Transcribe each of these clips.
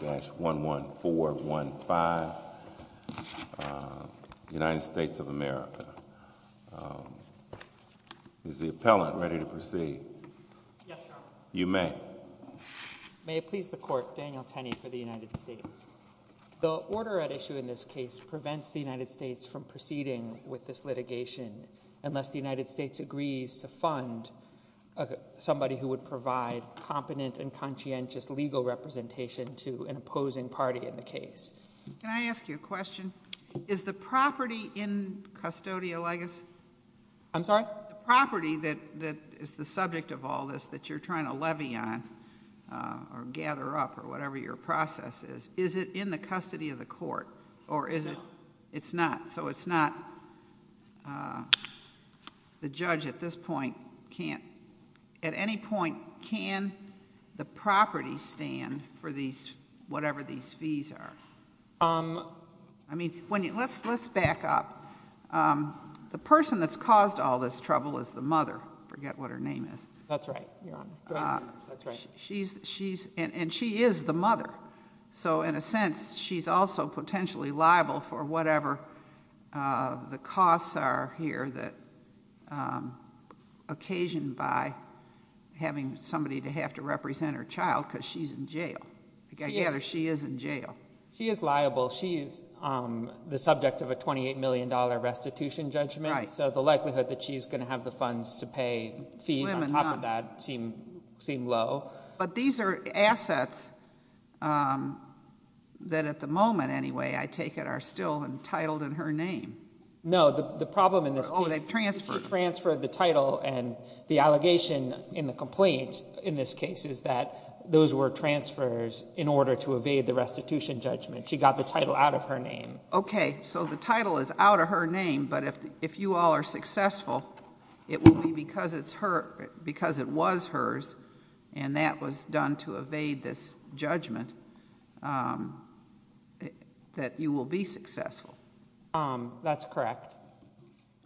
11415 United States of America. Is the appellant ready to proceed? Yes, Your Honor. You may. May it please the court, Daniel Tenney for the United States. The order at issue in this case prevents the United States from proceeding with this litigation unless the United States agrees to fund somebody who would provide competent and conscientious legal representation to an opposing party in the case. Can I ask you a question? Is the property in custodia legis? I'm sorry? The property that is the subject of all this that you're trying to levy on or gather up or whatever your process is, is it in the custody of the court? Or is it? It's not. So it's not. The judge at this point can't, at any point, can the property stand for these, whatever these fees are? I mean, when you let's let's back up. The person that's caused all this trouble is the mother. Forget what her name is. That's right. That's right. She's she's and she is the mother. So in a sense, she's also potentially liable for whatever the costs are here that occasioned by having somebody to have to represent her child because she's in jail. I gather she is in jail. She is liable. She is the subject of a twenty eight million dollar restitution judgment. So the likelihood that she's going to have the funds to pay fees on top of that seem seem low. But these are assets that at the moment, anyway, I take it are still entitled in her name. No, the problem in this transfer, the title and the allegation in the complaint in this case is that those were transfers in order to evade the restitution judgment. She got the title out of her name. OK, so the title is out of her name. But if if you all are successful, it will be because because it was hers and that was done to evade this judgment that you will be successful. That's correct.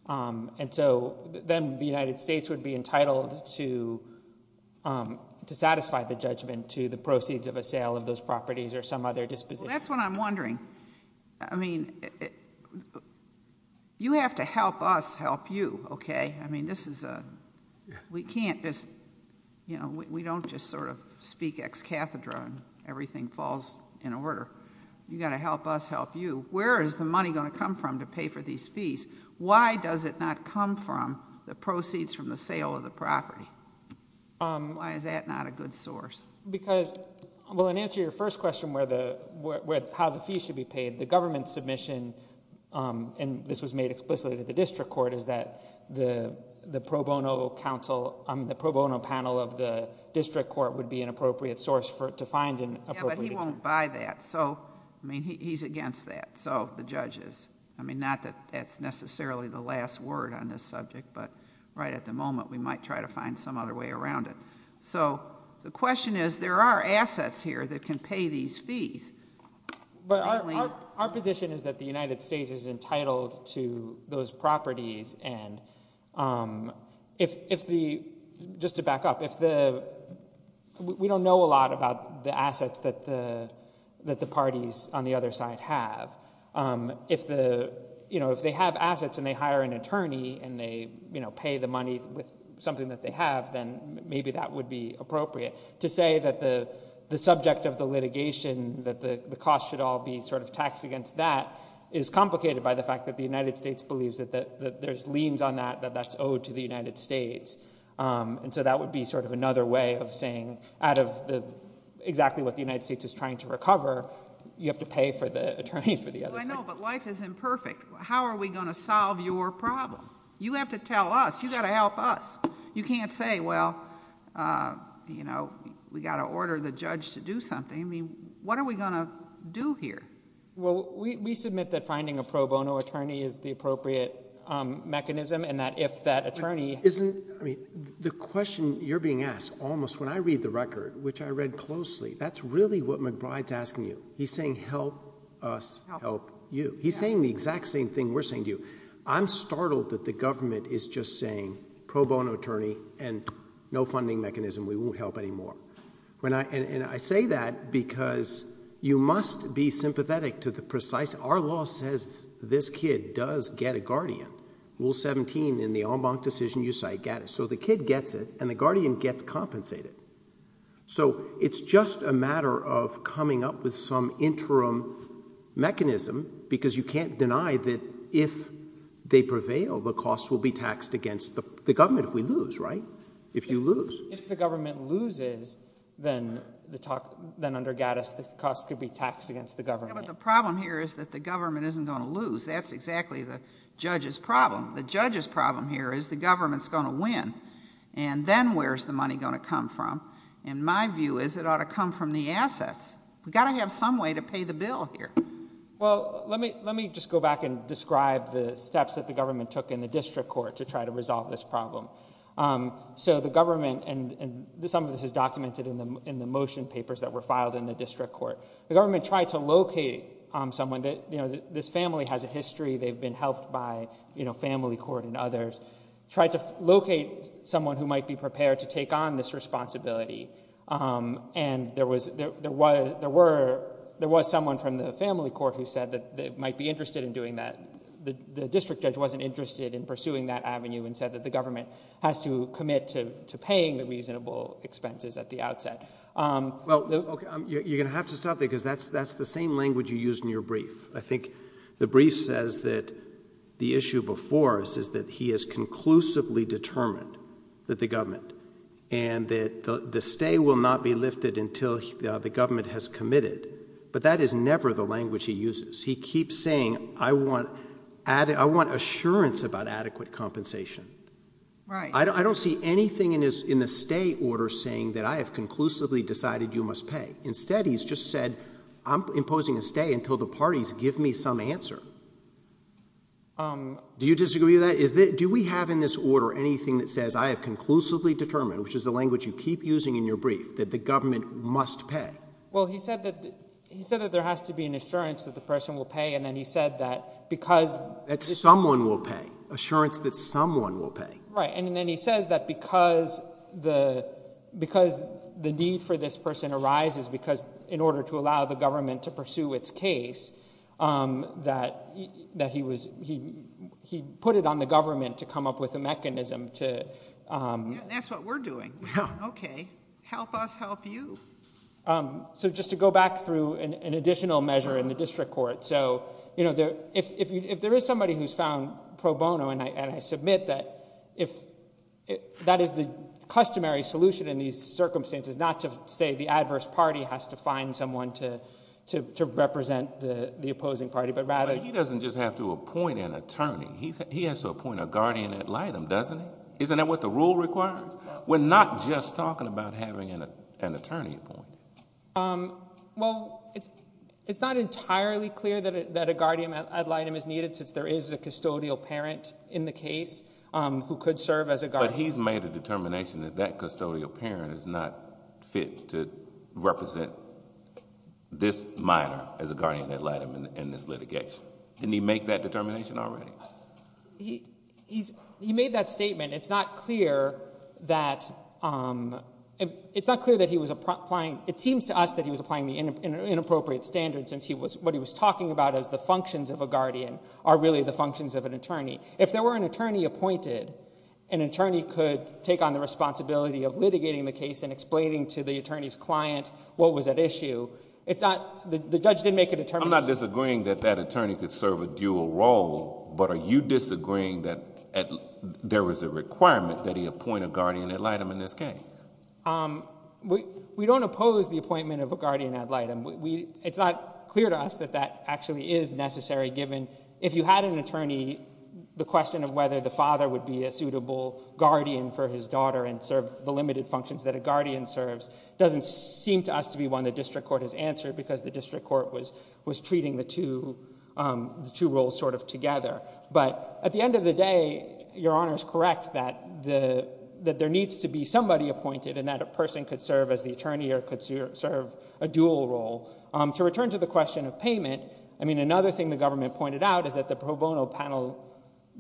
And so then the United States would be entitled to to satisfy the judgment to the proceeds of a sale of those properties or some other disposition. That's what I'm wondering. I mean, you have to help us help you. OK, I mean, this is a we can't just you know, we don't just sort of speak ex cathedra and everything falls in order. You got to help us help you. Where is the money going to come from to pay for these fees? Why does it not come from the proceeds from the sale of the property? Why is that not a good source? Because, well, in answer to your first question, where the how the fees should be paid, the government submission and this was made explicitly to the district court is that the the pro bono counsel on the pro bono panel of the district court would be an appropriate source for it to find an appropriate. But he won't buy that. So, I mean, he's against that. So the judges, I mean, not that that's necessarily the last word on this subject, but right at the moment, we might try to find some other way around it. So the question is, there are assets here that can pay these fees. But our position is that the United States is entitled to those properties. And if the just to back up, if the we don't know a lot about the assets that the that the parties on the other side have, if the you know, if they have assets and they hire an attorney and they, you know, pay the money with something that they have, then maybe that would be appropriate to say that the subject of the litigation that the cost should all be sort of taxed against that is complicated by the fact that the United States believes that there's liens on that, that that's owed to the United States. And so that would be sort of another way of saying out of the exactly what the United States is trying to recover, you have to pay for the attorney for the other side. Well, I know, but life is imperfect. How are we going to solve your problem? You have to tell us. You got to help us. You can't say, well, you know, we got to order the judge to do something. I mean, what are we going to do here? Well, we submit that finding a pro bono attorney is the appropriate mechanism and that if that attorney... Isn't, I mean, the question you're being asked almost when I read the record, which I read closely, that's really what McBride's asking you. He's saying help us help you. He's saying the exact same thing we're saying to you. I'm startled that the government is just saying pro bono attorney and no funding mechanism, we won't help anymore. And I say that because you must be sympathetic to the precise... our law says this kid does get a guardian. Rule 17 in the en banc decision you cite, so the kid gets it and the guardian gets compensated. So it's just a matter of coming up with some interim mechanism because you can't deny that if they prevail, the costs will be taxed against the government if we lose, right? If you lose. If the government loses, then the talk... then under Gattis, the cost could be taxed against the government. But the problem here is that the government isn't going to lose. That's exactly the judge's problem. The judge's problem here is the government's going to win and then where's the money going to come from? And my view is it ought to come from the assets. We've got to have some way to pay the bill here. Well, let me just go back and describe the steps that the government took in the district court to try to resolve this problem. So the government... and some of this is documented in the motion papers that were filed in the district court. The government tried to locate someone that... you know, this family has a history. They've been helped by, you know, family court and others. Tried to locate someone who might be prepared to take on this responsibility. And there was someone from the family court who said that they might be interested in doing that. The district judge wasn't interested in pursuing that avenue and said that the government has to commit to paying the reasonable expenses at the outset. Well, you're going to have to stop there because that's the same language you used in your brief. I think the brief says that the issue before us is that he has conclusively determined that the government... and that the stay will not be lifted until the government has committed. But that is never the language he uses. He keeps saying, I want assurance about adequate compensation. I don't see anything in the stay order saying that I have conclusively decided you must pay. Instead, he's just said, I'm imposing a stay until the parties give me some answer. Do you disagree with that? Do we have in this order anything that says I have conclusively determined, which is the language you keep using in your brief, that the government must pay? Well, he said that there has to be an assurance that the person will pay. And then he said that because... That someone will pay. Assurance that someone will pay. Right. And then he says that because the need for this person arises because, in order to allow the government to pursue its case, that he put it on the government to come up with a mechanism to... That's what we're doing. Okay. Help us help you. So just to go back through an additional measure in the district court. So if there is somebody who's found pro bono, and I submit that that is the customary solution in these circumstances, not to say the adverse party has to find someone to represent the opposing party, but rather... He doesn't just have to appoint an attorney. He has to appoint a guardian ad litem, doesn't he? Isn't that what the rule requires? We're not just talking about having an attorney appointed. Well, it's not entirely clear that a guardian ad litem is needed since there is a custodial parent in the case who could serve as a guardian. But he's made a determination that that custodial parent is not fit to represent this minor as a guardian ad litem in this litigation. Didn't he make that determination already? He made that statement. It's not clear that he was applying... It seems to us that he was applying the inappropriate standards since what he was talking about as the functions of a guardian are really the functions of an attorney. If there were an attorney appointed, an attorney could take on the responsibility of litigating the case and explaining to the attorney's client what was at issue. The judge did make a determination... I'm not disagreeing that that attorney could serve a dual role, but are you disagreeing that there was a requirement that he appoint a guardian ad litem in this case? We don't oppose the appointment of a guardian ad litem. It's not clear to us that that actually is necessary given if you had an attorney, the question of whether the father would be a suitable guardian for his daughter and serve the limited functions that a guardian serves doesn't seem to us to be one the district court has answered because the district court was treating the two roles sort of together. But at the end of the day, Your Honor is correct that there needs to be somebody appointed and that a person could serve as the attorney or could serve a dual role. To return to the question of payment, another thing the government pointed out is that the pro bono panel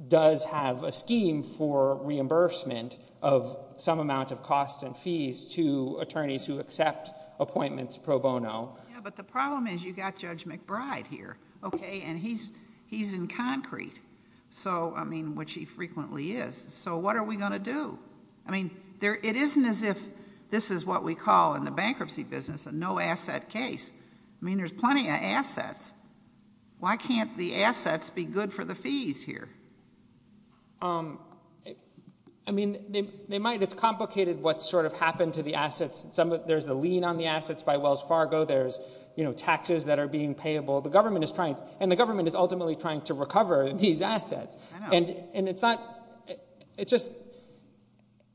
does have a scheme for reimbursement of some amount of costs and fees to attorneys who accept appointments pro bono. But the problem is you've got Judge McBride here and he's in concrete, which he frequently is, so what are we going to do? I mean, it isn't as if this is what we call in the bankruptcy business a no asset case. I mean, there's plenty of assets. Why can't the assets be good for the fees here? I mean, it's complicated what sort of happened to the assets. There's a lien on the assets by Wells Fargo. There's taxes that are being payable. And the government is ultimately trying to recover these assets.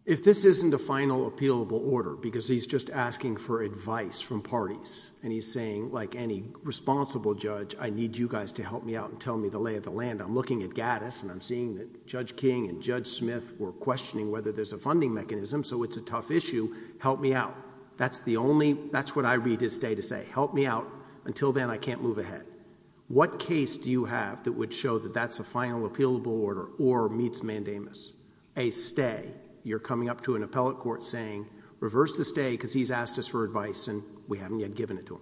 If this isn't a final appealable order, because he's just asking for advice from parties and he's saying, like any responsible judge, I need you guys to help me out and tell me the lay of the land. I'm looking at Gaddis and I'm seeing that Judge King and Judge Smith were questioning whether there's a funding mechanism, so it's a tough issue. Help me out. That's what I read his day to say. Help me out. Until then, I can't move ahead. What case do you have that would show that that's a final appealable order or meets mandamus? A stay. You're coming up to an appellate court saying, reverse the stay because he's asked us for advice and we haven't yet given it to him.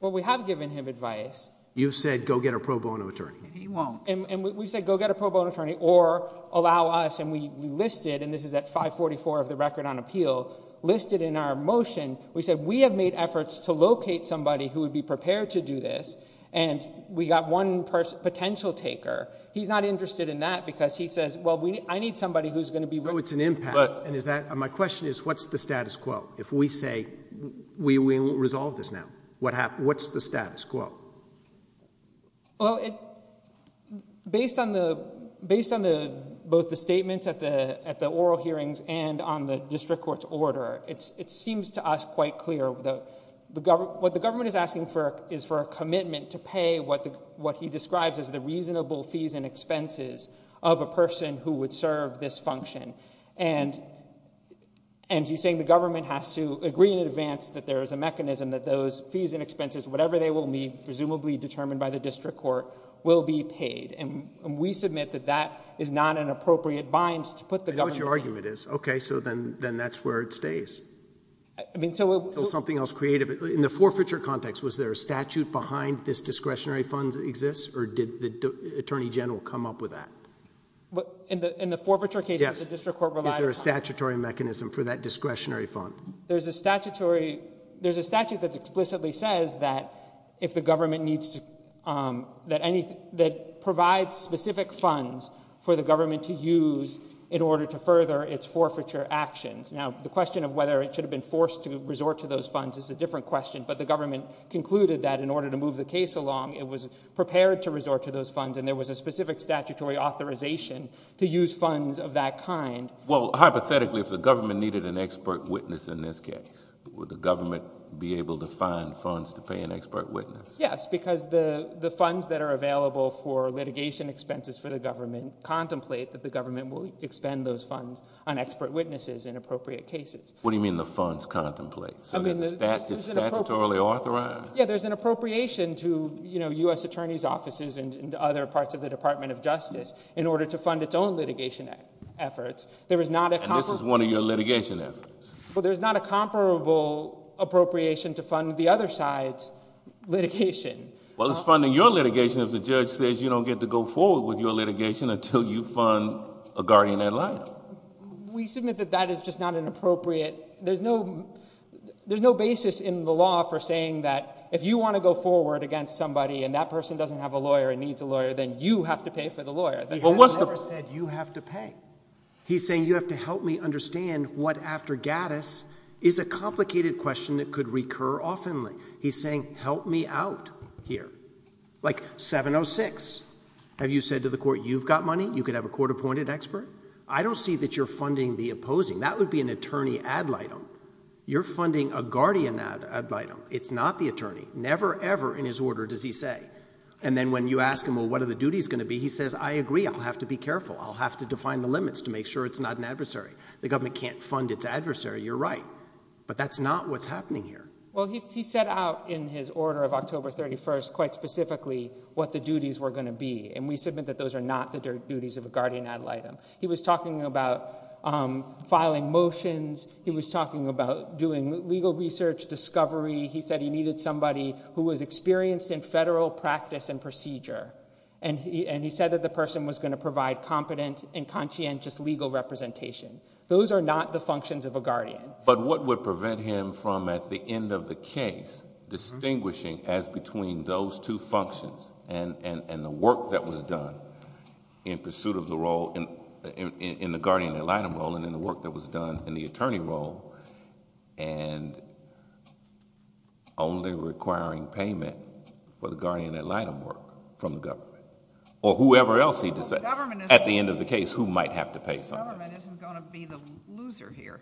Well, we have given him advice. You said go get a pro bono attorney. He won't. And we said go get a pro bono attorney or allow us, and we listed, and this is at 544 of the record on appeal, listed in our motion, we said we have made efforts to locate somebody who would be prepared to do this, and we got one potential taker. He's not interested in that because he says, well, I need somebody who's going to be. So it's an impact, and is that, my question is, what's the status quo? If we say we won't resolve this now, what's the status quo? Well, based on both the statements at the oral hearings and on the district court's order, it seems to us quite clear that what the government is asking for is for a commitment to pay what he describes as the reasonable fees and expenses of a person who would serve this function. And he's saying the government has to agree in advance that there is a mechanism that those fees and expenses, whatever they will be, presumably determined by the district court, will be paid. And we submit that that is not an appropriate binds to put the government. Okay, so then that's where it stays. In the forfeiture context, was there a statute behind this discretionary fund that exists, or did the attorney general come up with that? In the forfeiture case, the district court relied on. Is there a statutory mechanism for that discretionary fund? There's a statutory, there's a statute that explicitly says that if the government needs, that any, that provides specific funds for the government to use in order to further its forfeiture actions. Now, the question of whether it should have been forced to resort to those funds is a different question, but the government concluded that in order to move the case along, it was prepared to resort to those funds. And there was a specific statutory authorization to use funds of that kind. Well, hypothetically, if the government needed an expert witness in this case, would the government be able to find funds to pay an expert witness? Yes, because the funds that are available for litigation expenses for the government contemplate that the government will expend those funds on expert witnesses in appropriate cases. What do you mean the funds contemplate? Is it statutorily authorized? Yeah, there's an appropriation to U.S. Attorney's Offices and other parts of the Department of Justice in order to fund its own litigation efforts. And this is one of your litigation efforts? Well, there's not a comparable appropriation to fund the other side's litigation. Well, it's funding your litigation if the judge says you don't get to go forward with your litigation until you fund a guardian ad litem. We submit that that is just not an appropriate, there's no, there's no basis in the law for saying that if you want to go forward against somebody and that person doesn't have a lawyer and needs a lawyer, then you have to pay for the lawyer. He hasn't ever said you have to pay. He's saying you have to help me understand what aftergadus is a complicated question that could recur often. He's saying help me out here. Like 706, have you said to the court you've got money? You could have a court-appointed expert? I don't see that you're funding the opposing. That would be an attorney ad litem. You're funding a guardian ad litem. It's not the attorney. Never, ever in his order does he say. And then when you ask him, well, what are the duties going to be? He says, I agree. I'll have to be careful. I'll have to define the limits to make sure it's not an adversary. The government can't fund its adversary. You're right. But that's not what's happening here. Well, he set out in his order of October 31st, quite specifically, what the duties were going to be. And we submit that those are not the duties of a guardian ad litem. He was talking about filing motions. He was talking about doing legal research, discovery. He said he needed somebody who was experienced in federal practice and procedure. And he said that the person was going to provide competent and conscientious legal representation. Those are not the functions of a guardian. But what would prevent him from, at the end of the case, distinguishing as between those two functions and the work that was done in pursuit of the role in the guardian ad litem role and in the work that was done in the attorney role and only requiring payment for the guardian ad litem work from the government or whoever else he decides. At the end of the case, who might have to pay something? The government isn't going to be the loser here.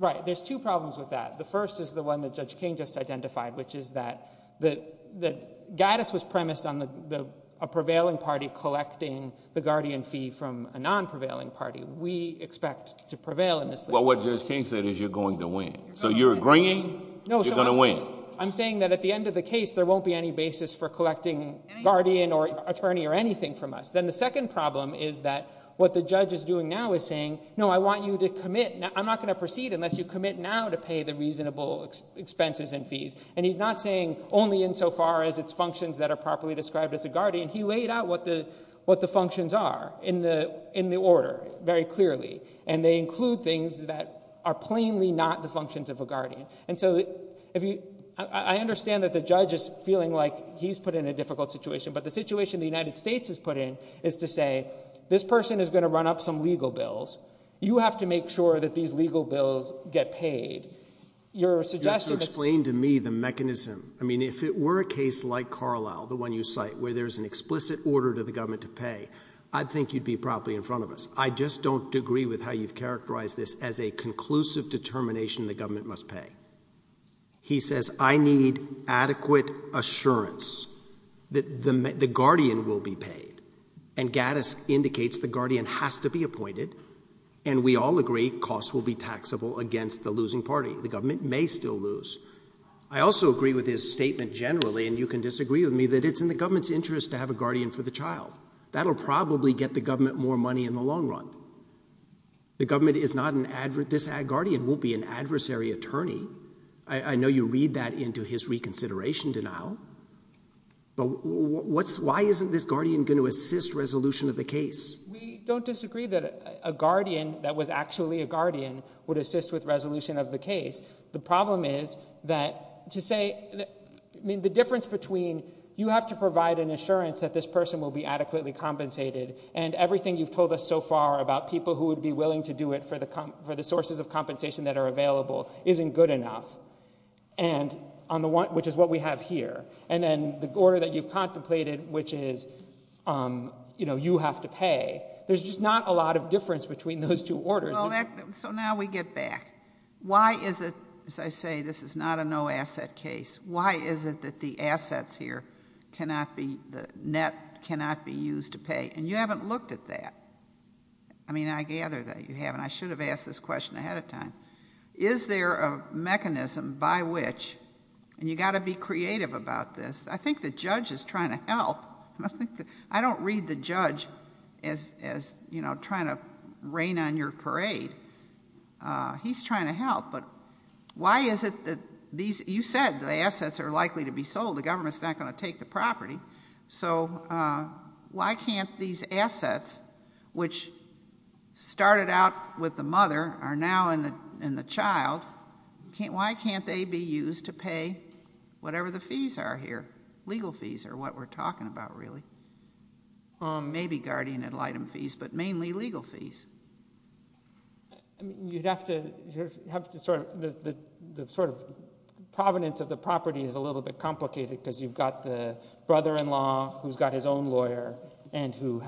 Right. There's two problems with that. The first is the one that Judge King just identified, which is that Guidess was premised on a prevailing party collecting the guardian fee from a non-prevailing party. We expect to prevail in this. Well, what Judge King said is you're going to win. So you're agreeing you're going to win. I'm saying that at the end of the case, there won't be any basis for collecting guardian or attorney or anything from us. The second problem is that what the judge is doing now is saying, no, I want you to commit. I'm not going to proceed unless you commit now to pay the reasonable expenses and fees. He's not saying only insofar as it's functions that are properly described as a guardian. He laid out what the functions are in the order very clearly, and they include things that are plainly not the functions of a guardian. I understand that the judge is feeling like he's put in a difficult situation, but the situation the United States is put in is to say, this person is going to run up some legal bills. You have to make sure that these legal bills get paid. You're suggesting to me the mechanism. I mean, if it were a case like Carlisle, the one you cite, where there's an explicit order to the government to pay, I think you'd be probably in front of us. I just don't agree with how you've characterized this as a conclusive determination the government must pay. He says, I need adequate assurance that the guardian will be paid, and Gaddis indicates the guardian has to be appointed, and we all agree costs will be taxable against the losing party. The government may still lose. I also agree with his statement generally, and you can disagree with me, that it's in the government's interest to have a guardian for the child. That'll probably get the government more money in the long run. The government is not an adversary. This guardian won't be an adversary attorney. I know you read that into his reconsideration denial, but why isn't this guardian going to assist resolution of the case? We don't disagree that a guardian that was actually a guardian would assist with resolution of the case. The problem is that to say, I mean, the difference between you have to provide an assurance that this person will be adequately compensated, and everything you've told us so far about people who would be willing to do it for the sources of compensation that are available isn't good enough, which is what we have here, and then the order that you've contemplated, which is you have to pay. There's just not a lot of difference between those two orders. Well, so now we get back. Why is it, as I say, this is not a no asset case. Why is it that the assets here cannot be, the net cannot be used to pay, and you haven't looked at that. I mean, I gather that you haven't. I should have asked this question ahead of time. Is there a mechanism by which, and you got to be creative about this. I think the judge is trying to help. I don't read the judge as trying to rain on your parade. He's trying to help, but why is it that these, you said the assets are likely to be sold. The government's not going to take the property, so why can't these assets, which started out with the mother, are now in the child, why can't they be used to pay whatever the fees are here? Legal fees are what we're talking about, really. Maybe guardian ad litem fees, but mainly legal fees. You'd have to sort of, the sort of provenance of the property is a little bit complicated, because you've got the brother-in-law who's got his own lawyer, and who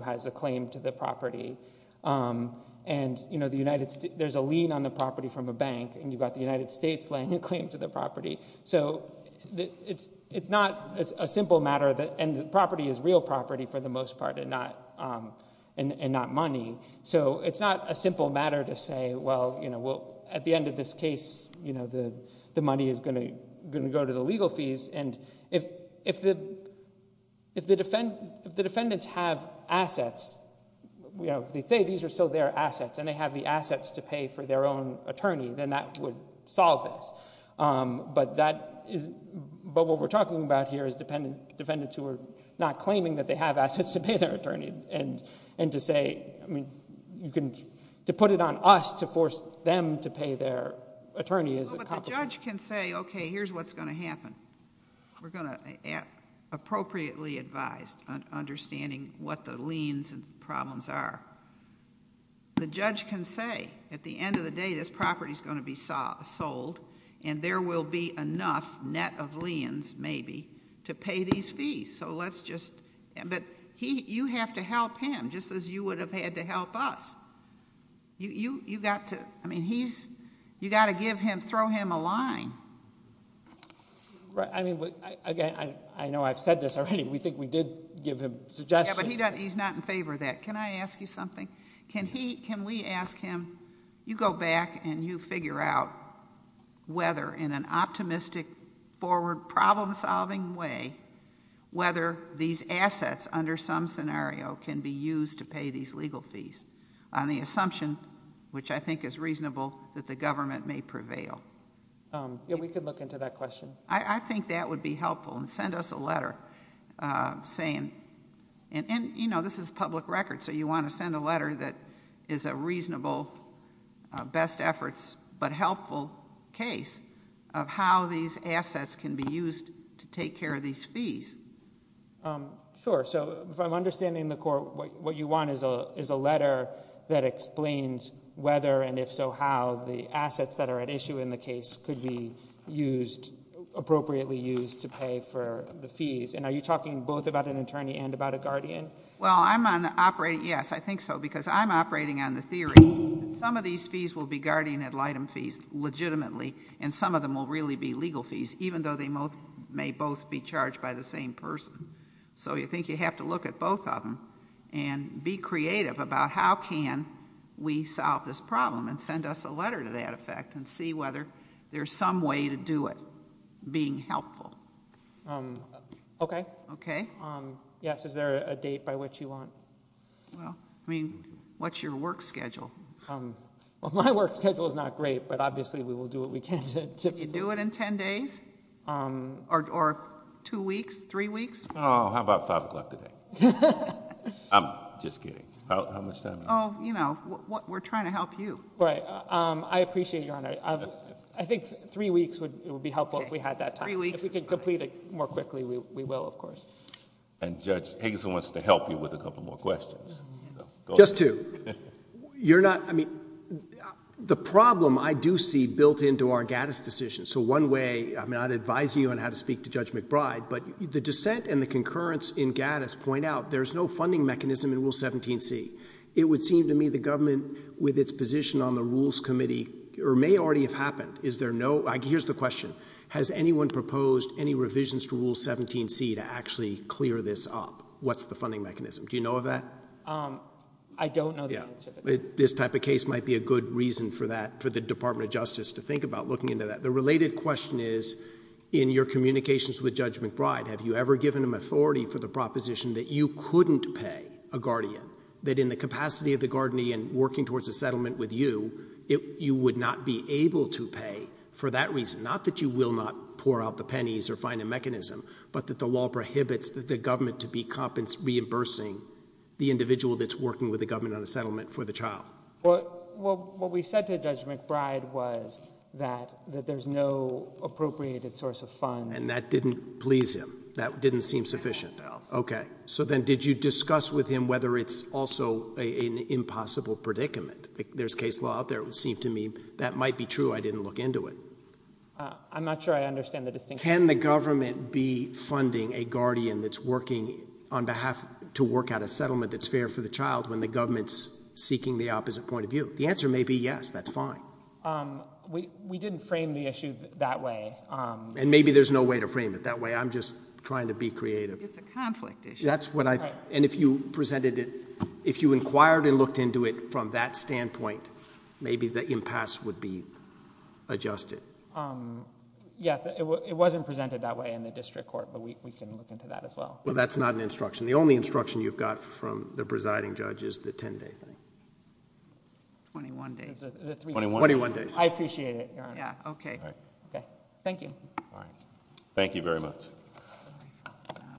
has a claim to the property. There's a lien on the property from a bank, and you've got the United States laying a claim to the property. It's not a simple matter, and the property is real property for the most part, and not money, so it's not a simple matter to say, at the end of this case, the money is going to go to the legal fees, and if the defendants have assets, they say these are still their assets, and they have the assets to pay for their own attorney, then that would solve this, but what we're talking about here is defendants who are not claiming that they have assets to pay their attorney, and to say, I mean, you can, to put it on us to force them to pay their attorney is a complicated... But the judge can say, okay, here's what's going to happen. We're going to appropriately advise on understanding what the liens and problems are. The judge can say, at the end of the day, this property is going to be sold, and there will be enough net of liens, maybe, to pay these fees, so let's just... But you have to help him, just as you would have had to help us. You got to, I mean, he's, you got to give him, throw him a line. Right, I mean, again, I know I've said this already. We think we did give him suggestions. Yeah, but he's not in favor of that. Can I ask you something? Can we ask him, you go back, and you figure out whether, in an optimistic, forward, problem-solving way, whether these assets, under some scenario, can be used to pay these legal fees, on the assumption, which I think is reasonable, that the government may prevail? Yeah, we could look into that question. I think that would be helpful, and send us a letter saying... And, you know, this is public record, so you want to send a letter that is a reasonable, best efforts, but helpful case of how these assets can be used to take care of these fees. Sure. So, if I'm understanding the court, what you want is a letter that explains whether, and if so, how, the assets that are at issue in the case could be used, appropriately used, to pay for the fees. And are you talking both about an attorney and about a guardian? Well, I'm on the operating, yes, I think so, because I'm operating on the theory that some of these fees will be guardian ad litem fees, legitimately, and some of them will really be legal fees, even though they may both be charged by the same person. So, I think you have to look at both of them, and be creative about how can we solve this problem, and send us a letter to that effect, and see whether there's some way to do it, being helpful. Okay. Okay. Yes, is there a date by which you want? Well, I mean, what's your work schedule? Well, my work schedule is not great, but obviously we will do what we can to... You do it in ten days? Or two weeks? Three weeks? Oh, how about five o'clock today? I'm just kidding. Oh, you know, we're trying to help you. Right. I appreciate your honor. I think three weeks would be helpful if we had that time. If we could complete it more quickly, we will, of course. And Judge Higginson wants to help you with a couple more questions. Just two. You're not... I mean, the problem I do see built into our Gaddis decision, so one way, I'm not advising you on how to speak to Judge McBride, but the dissent and the concurrence in Gaddis point out there's no funding mechanism in Rule 17c. It would seem to me the government, with its position on the Rules Committee, or may already have happened, is there no... Here's the question. Has anyone proposed any revisions to Rule 17c to actually clear this up? What's the funding mechanism? Do you know of that? I don't know the answer to that. This type of case might be a good reason for that, for the Department of Justice to think about looking into that. The related question is, in your communications with Judge McBride, have you ever given him authority for the proposition that you couldn't pay a guardian? That in the capacity of the guardian working towards a settlement with you, you would not be able to pay for that reason? Not that you will not pour out the pennies or find a mechanism, but that the law prohibits the government to be reimbursing the individual that's working with the government on a settlement for the child? What we said to Judge McBride was that there's no appropriated source of funds. And that didn't please him? That didn't seem sufficient? Okay. So then did you discuss with him whether it's also an impossible predicament? There's case law out there. It would seem to me that might be true. I didn't look into it. I'm not sure I understand the distinction. Can the government be funding a guardian that's working on behalf to work out a settlement that's fair for the child when the government's seeking the opposite point of view? The answer may be yes. That's fine. We didn't frame the issue that way. And maybe there's no way to frame it that way. I'm just trying to be creative. It's a conflict issue. That's what I think. And if you presented it, if you inquired and looked into it from that standpoint, maybe the impasse would be adjusted. Um, yeah. It wasn't presented that way in the district court. But we can look into that as well. Well, that's not an instruction. The only instruction you've got from the presiding judge is the ten-day thing. Twenty-one days. Twenty-one days. I appreciate it, Your Honor. Yeah, okay. All right. Okay. Thank you. All right. Thank you very much.